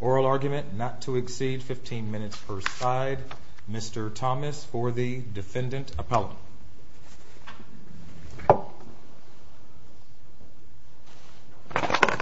oral argument not to exceed 15 minutes per side. Mr. Thomas for the defendant appellate. Yeah. Yeah.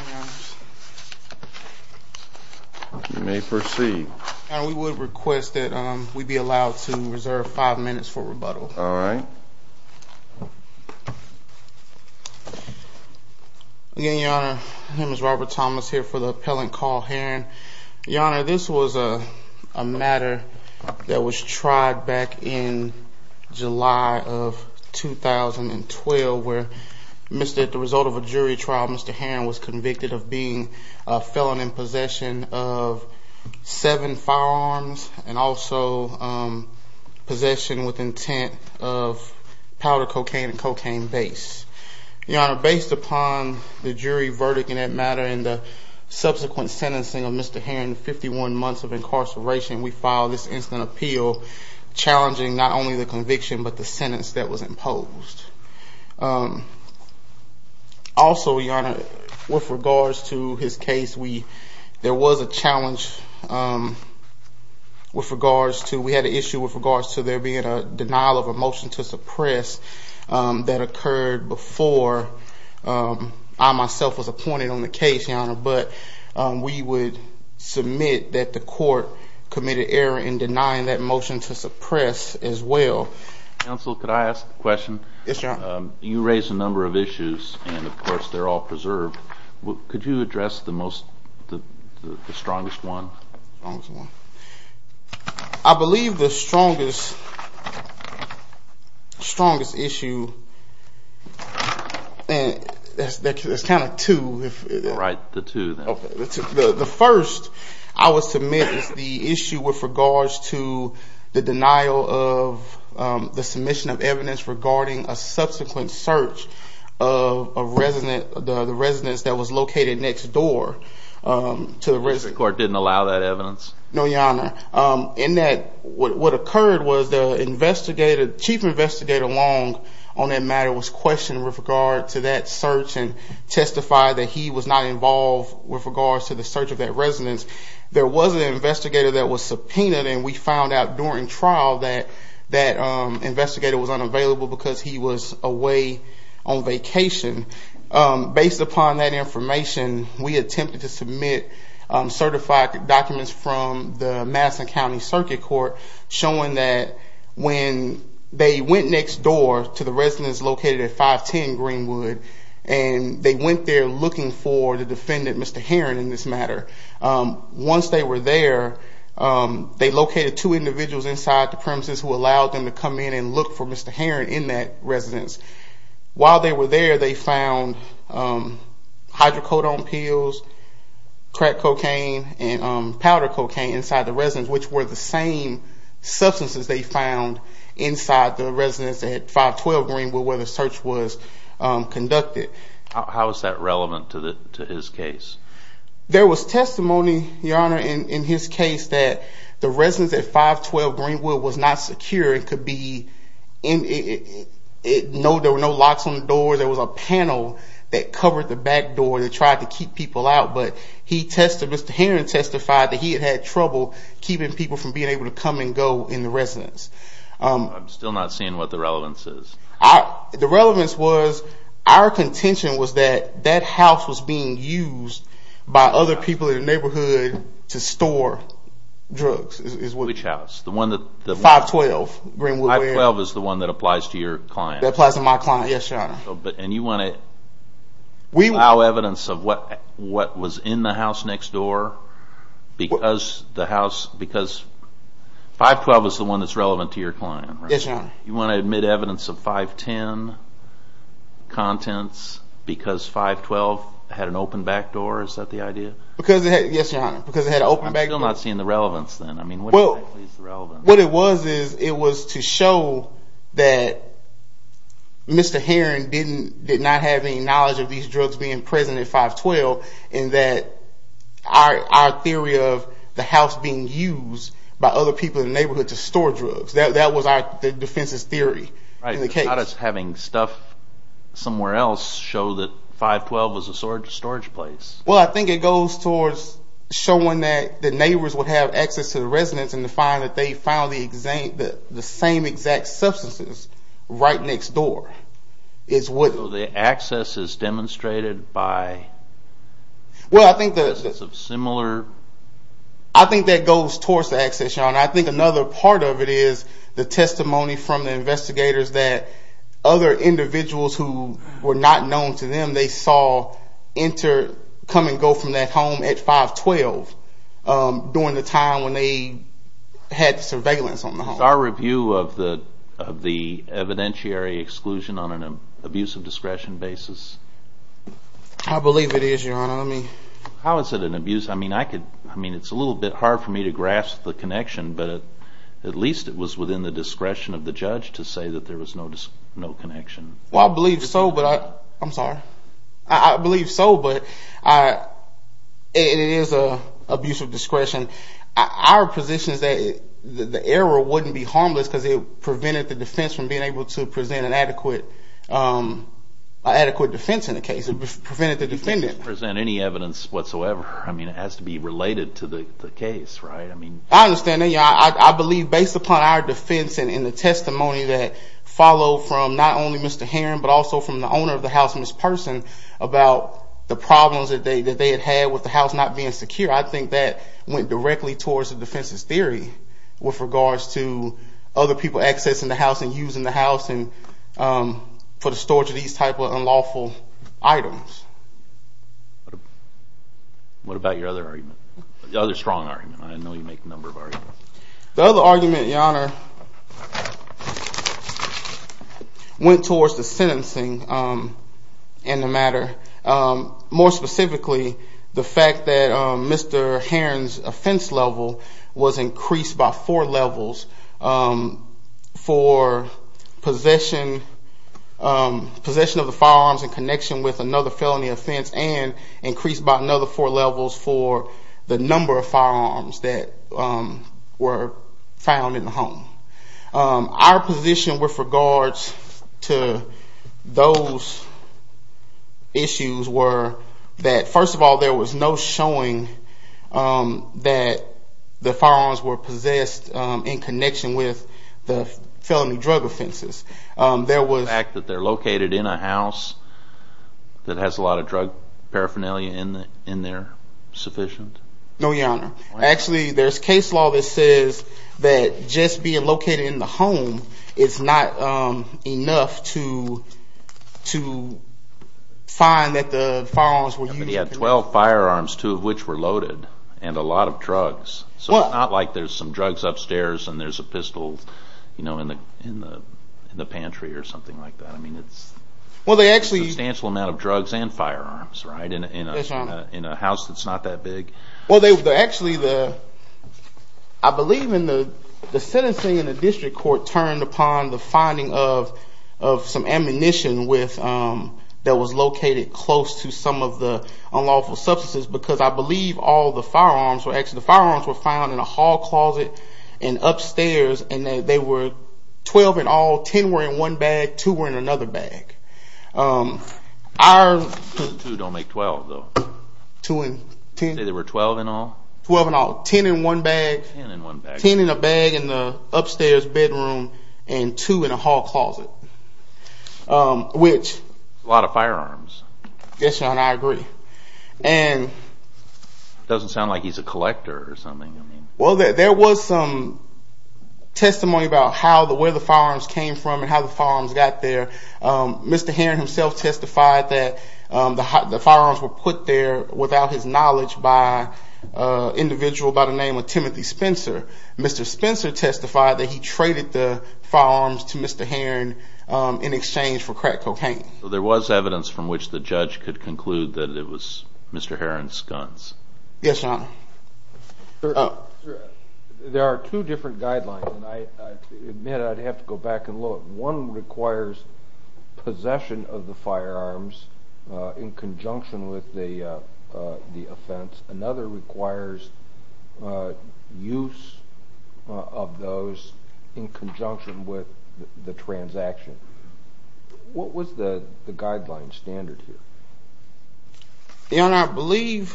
Yeah. Yeah. Yeah. Yeah. Yeah. Yeah. May proceed. We would request that we be allowed to reserve five minutes for rebuttal. All right. Yeah, your honor. His name is Robert Thomas here for the appellant call here. Your honor. This was a matter that was tried back in July of 2012 where Mr. The result of a jury trial. Mr. Han was convicted of being a felon in possession of seven firearms and also, um, possession with intent of powder cocaine and cocaine base. Your honor, based upon the jury verdict in that matter, in the subsequent sentencing of Mr. Han, 51 months of incarceration, we filed this instant appeal challenging not only the conviction, but the sentence that was imposed. Um, also, your honor, with regards to his case, we there was a challenge, um, with regards to, we had an issue with regards to there being a denial of a pointed on the case, your honor. But, um, we would submit that the court committed error in denying that motion to suppress as well. Counsel, could I ask a question? You raise a number of issues and of course they're all preserved. Could you address the most, the strongest one? I believe the strongest, strongest issue and that's, that's kind of two, right? The two. The first I was to make the issue with regards to the denial of the submission of evidence regarding a subsequent search of a resident, the residents that was located next door, um, to the risk or didn't allow that evidence. No, your honor. Um, in that what occurred was the investigator, chief investigator long on that matter was questioned with regard to that search and testify that he was not involved with regards to the search of that residence. There was an investigator that was subpoenaed and we found out during trial that that, um, investigator was unavailable because he was away on vacation. Um, based upon that information, we attempted to submit certified documents from the Madison County circuit court showing that when they went next door to the residence located at 510 Greenwood and they went there looking for the defendant, Mr. Heron in this matter. Um, once they were there, um, they located two individuals inside the premises who allowed them to come in and look for Mr. Heron in that residence. While they were there, they found, um, hydrocodone pills, crack cocaine and powder cocaine inside the residence, which were the same substances they found inside the residence at 512 Greenwood where the search was conducted. How is that relevant to the, to his case? There was testimony, your honor, in his case that the residence at 512 Greenwood was not secure. It could be in it. No, there were no locks on the door. There was a panel that covered the back door. They tried to keep people out, but he tested Mr Heron testified that he had had trouble keeping people from being able to come and go in the residence. Um, I'm still not seeing what the relevance is. The relevance was our contention was that that house was being used by other people in the neighborhood to store drugs. Which house? The one that the 512 Greenwood 12 is the one that applies to your client applies to my client. Yes, your honor. But and you want it. We allow evidence of what what was in the house next door because the house because 512 is the one that's relevant to your client. You want to admit evidence of 5 10 contents because 5 12 had an open back door. Is that the idea? Because yes, your honor, because it had opened back. I'm not seeing the relevance then. I mean, well, what it was is it was to show that Mr Heron didn't did not have any knowledge of these drugs being present at 5 12 and that our theory of the house being used by other people in the neighborhood to store drugs. That was our defense's theory in the case. Having stuff somewhere else show that 5 12 was a sword storage place. Well, I think it goes towards showing that the neighbors would have access to the residents and to find that they found the exact the same exact substances right next door is what the access is demonstrated by. Well, I think there's a similar. I think that goes towards the access, your honor. I think another part of it is the testimony from the investigators that other individuals who were not known to them, they saw enter, come and go from that home at 5 12 during the time when they had surveillance on our review of the of the evidentiary exclusion on an abuse of discretion basis. I believe it is your honor. I mean, how is it an abuse? I mean, I could, I mean, it's a little bit hard for me to grasp the connection, but at least it was within the discretion of the judge to say that there was no, no connection. Well, I believe so, but I'm sorry. I believe so. But I, it is a abuse of discretion. Our position is that the error wouldn't be harmless because it prevented the defense from being able to present an adequate, um, adequate defense in the case. It prevented the defendant present any evidence whatsoever. I mean, it has to be related to the case, right? I mean, I understand that. Yeah, I believe based upon our defense and in the testimony that followed from not only Mr Heron, but also from the owner of the house in this person about the problems that they that they had had with the house not being secure. I think that went directly towards the defense's theory with regards to other people accessing the house and using the house and, um, for the storage of these type of unlawful items. What about your other argument? The other strong argument? I know you make a number of arguments. The other argument, Your Honor, went towards the sentencing, um, in the matter. Um, more specifically, the possession, um, possession of the firearms in connection with another felony offense and increased by another four levels for the number of firearms that were found in the home. Our position with regards to those issues were that, first of all, there was no showing, um, that the firearms were in the home. There was no showing that there were felony drug offenses. Um, there was... The fact that they're located in a house that has a lot of drug paraphernalia in there sufficient? No, Your Honor. Actually, there's case law that says that just being located in the home is not, um, enough to, to find that the firearms were used... He had 12 firearms, two of which were loaded and a lot of drugs. So it's not like there's some drugs upstairs and there's a pistol, you know, in the, in the, in the pantry or something like that. I mean, it's... Well, they actually... Substantial amount of drugs and firearms, right? In a, in a... Yes, Your Honor. In a house that's not that big. Well, they, actually, the... I believe in the, the sentencing in the district court turned upon the finding of, of some ammunition with, um, that was located close to some of the unlawful substances because I believe all the firearms were actually... The firearms were found in a room upstairs and they were 12 in all, 10 were in one bag, two were in another bag. Our... Two don't make 12, though. Two in 10... You say there were 12 in all? 12 in all. 10 in one bag. 10 in one bag. 10 in a bag in the upstairs bedroom and two in a hall closet, which... A lot of firearms. Yes, Your Honor, I agree. And... It doesn't sound like he's a collector or something, Your Honor. Well, there was some testimony about how the, where the firearms came from and how the firearms got there. Mr. Heron himself testified that the, the firearms were put there without his knowledge by an individual by the name of Timothy Spencer. Mr. Spencer testified that he traded the firearms to Mr. Heron in exchange for crack cocaine. There was evidence from which the judge could conclude that it was Mr. Heron's guns. Yes, Your Honor. There are two different guidelines and I admit I'd have to go back and look. One requires possession of the firearms in conjunction with the offense. Another requires use of those in conjunction with the transaction. What was the guideline standard here? Your Honor, I believe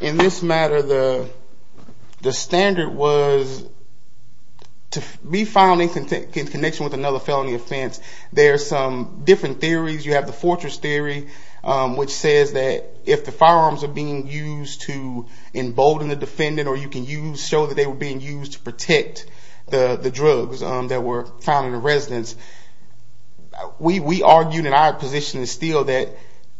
in this matter, the standard was to be found in connection with another felony offense. There are some different theories. You have the fortress theory, which says that if the firearms are being used to embolden the defendant or you can use, show that they are evidence. We, we argued in our position still that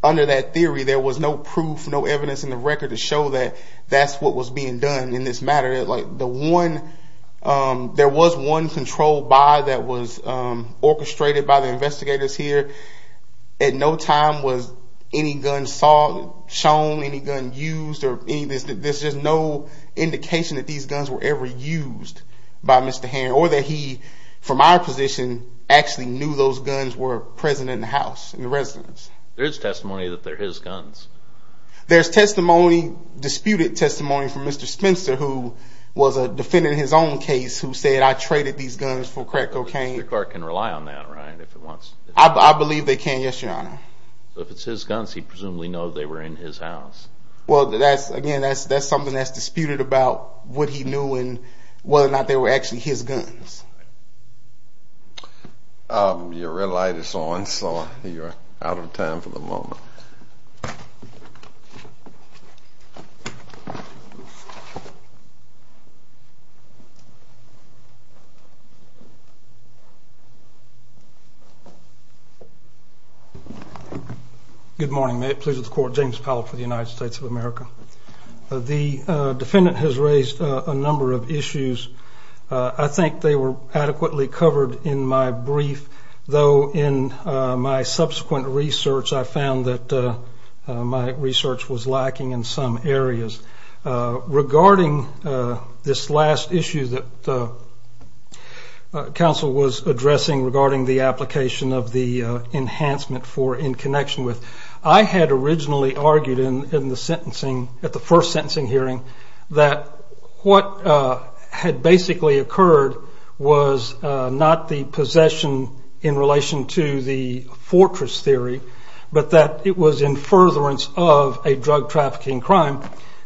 under that theory, there was no proof, no evidence in the record to show that that's what was being done in this matter. Like the one, there was one controlled by that was orchestrated by the investigators here. At no time was any gun saw, shown, any gun used or any of this, there's just no indication that these guns were ever used by Mr. Heron or that he, from our position, actually knew those guns were present in the house, in the residence. There's testimony that they're his guns. There's testimony, disputed testimony from Mr. Spencer, who was a defendant in his own case, who said, I traded these guns for crack cocaine. The court can rely on that, right, if it wants? I believe they can, yes, Your Honor. So if it's his guns, he presumably knows they were in his house. Well, that's, again, that's something that's disputed about what he knew and whether or not they were actually his guns. Your red light is on, so you are out of time for the moment. Good morning. May it please the court. James Powell for the United I think they were adequately covered in my brief, though in my subsequent research, I found that my research was lacking in some areas. Regarding this last issue that counsel was addressing regarding the application of the enhancement for in connection with, I had originally argued in the sentencing, at the first sentencing hearing, that what had basically occurred was not the possession in relation to the fortress theory, but that it was in furtherance of a drug trafficking crime,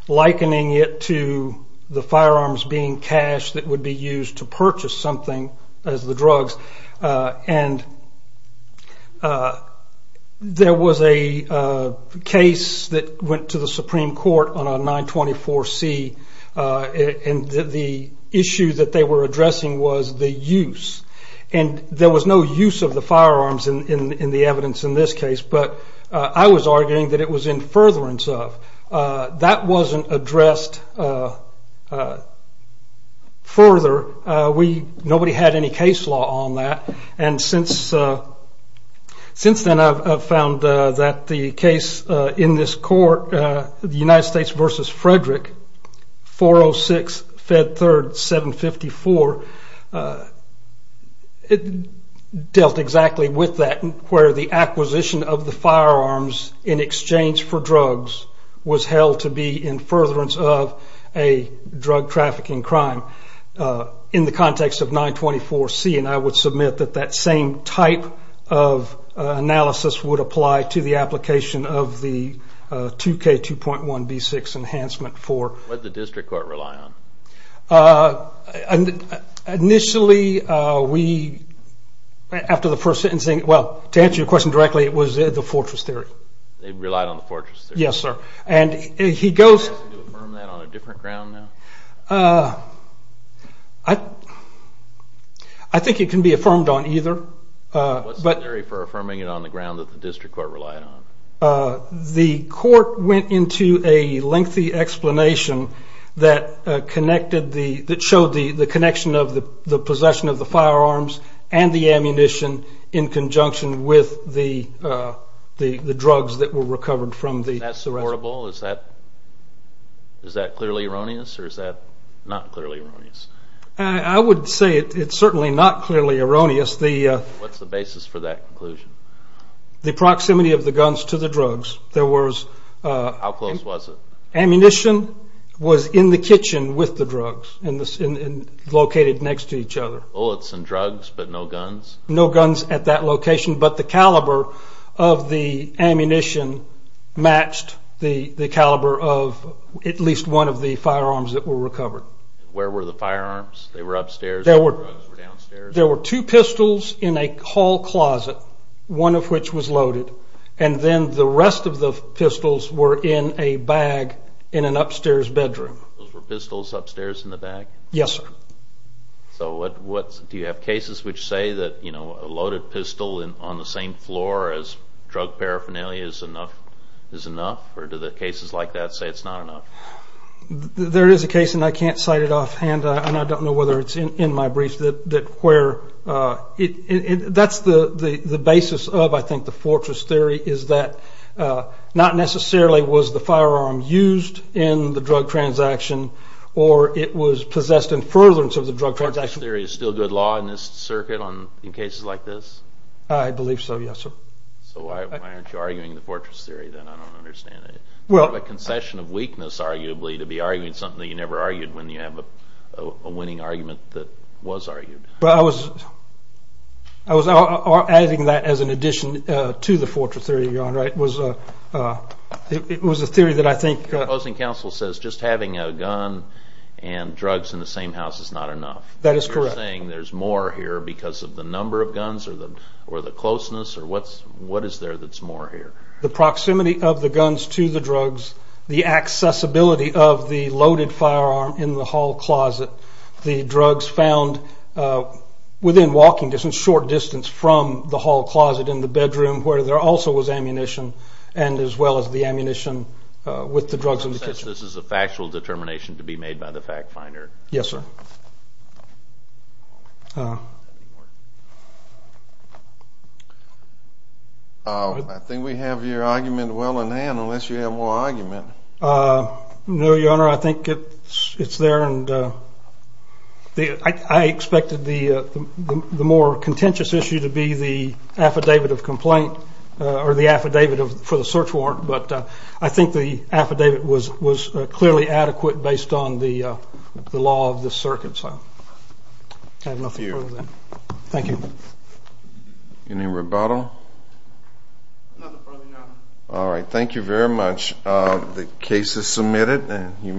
likening it to the firearms being cashed that would be used to purchase something as the drugs. And there was a case that went to the Supreme Court on a 924C, and the issue that they were addressing was the use. And there was no use of the firearms in the evidence in this case, but I was arguing that it was in furtherance of. That wasn't addressed further. Nobody had any case law on that. And since then I've found that the case in this court, the United States versus Frederick, 406 Fed Third 754, dealt exactly with that, where the acquisition of the firearms in exchange for drugs was held to be in furtherance of a drug trafficking crime in the context of 924C. And I would submit that that same type of analysis would apply to the application of the 2K2.1B6 enhancement for. What did the district court rely on? Initially, we, after the first sentencing, well, to answer your question directly, it was the fortress theory. They relied on the fortress theory. Yes, sir. And he goes. Affirm that on a different ground now? I think it can be affirmed on either. What's the theory for affirming it on the ground that the district court relied on? The court went into a lengthy explanation that connected the, that showed the connection of the possession of the firearms and the ammunition in conjunction with the drugs that were recovered from the. Is that is that clearly erroneous or is that not clearly erroneous? I would say it's certainly not clearly erroneous. What's the basis for that conclusion? The proximity of the guns to the drugs. There was. How close was it? Ammunition was in the kitchen with the drugs, located next to each other. Bullets and drugs, but no guns? No guns at that location, but the caliber of the caliber of at least one of the firearms that were recovered. Where were the firearms? They were upstairs or downstairs? There were two pistols in a hall closet, one of which was loaded, and then the rest of the pistols were in a bag in an upstairs bedroom. Those were pistols upstairs in the bag? Yes, sir. So what, what, do you have cases which say that, you know, a loaded pistol on the same floor as drug paraphernalia is enough, is enough, or do the cases like that say it's not enough? There is a case, and I can't cite it offhand, and I don't know whether it's in my briefs, that, that where it, that's the, the, the basis of, I think, the fortress theory is that not necessarily was the firearm used in the drug transaction or it was possessed in furtherance of the drug transaction. Fortress theory is still good law in this circuit on, in cases like this? I believe so, yes, sir. So well, a concession of weakness, arguably, to be arguing something that you never argued when you have a winning argument that was argued. But I was, I was adding that as an addition to the fortress theory you're on, right, was, it was a theory that I think... The opposing counsel says just having a gun and drugs in the same house is not enough. That is correct. You're saying there's more here because of the number of guns or the, or the closeness or what is there that's more here? The proximity of the guns to the drugs, the accessibility of the loaded firearm in the hall closet, the drugs found within walking distance, short distance from the hall closet in the bedroom where there also was ammunition, and as well as the ammunition with the drugs in the kitchen. So this is a factual determination to be made by the fact finder. Yes, sir. I think we have your argument well in hand unless you have more argument. No, your honor, I think it's there and I expected the more contentious issue to be the affidavit of complaint or the affidavit for the search warrant, but I think the affidavit was clearly adequate based on the law of the circuit, so I have nothing further then. Thank you. Any rebuttal? All right, thank you very much. The case is submitted and you may...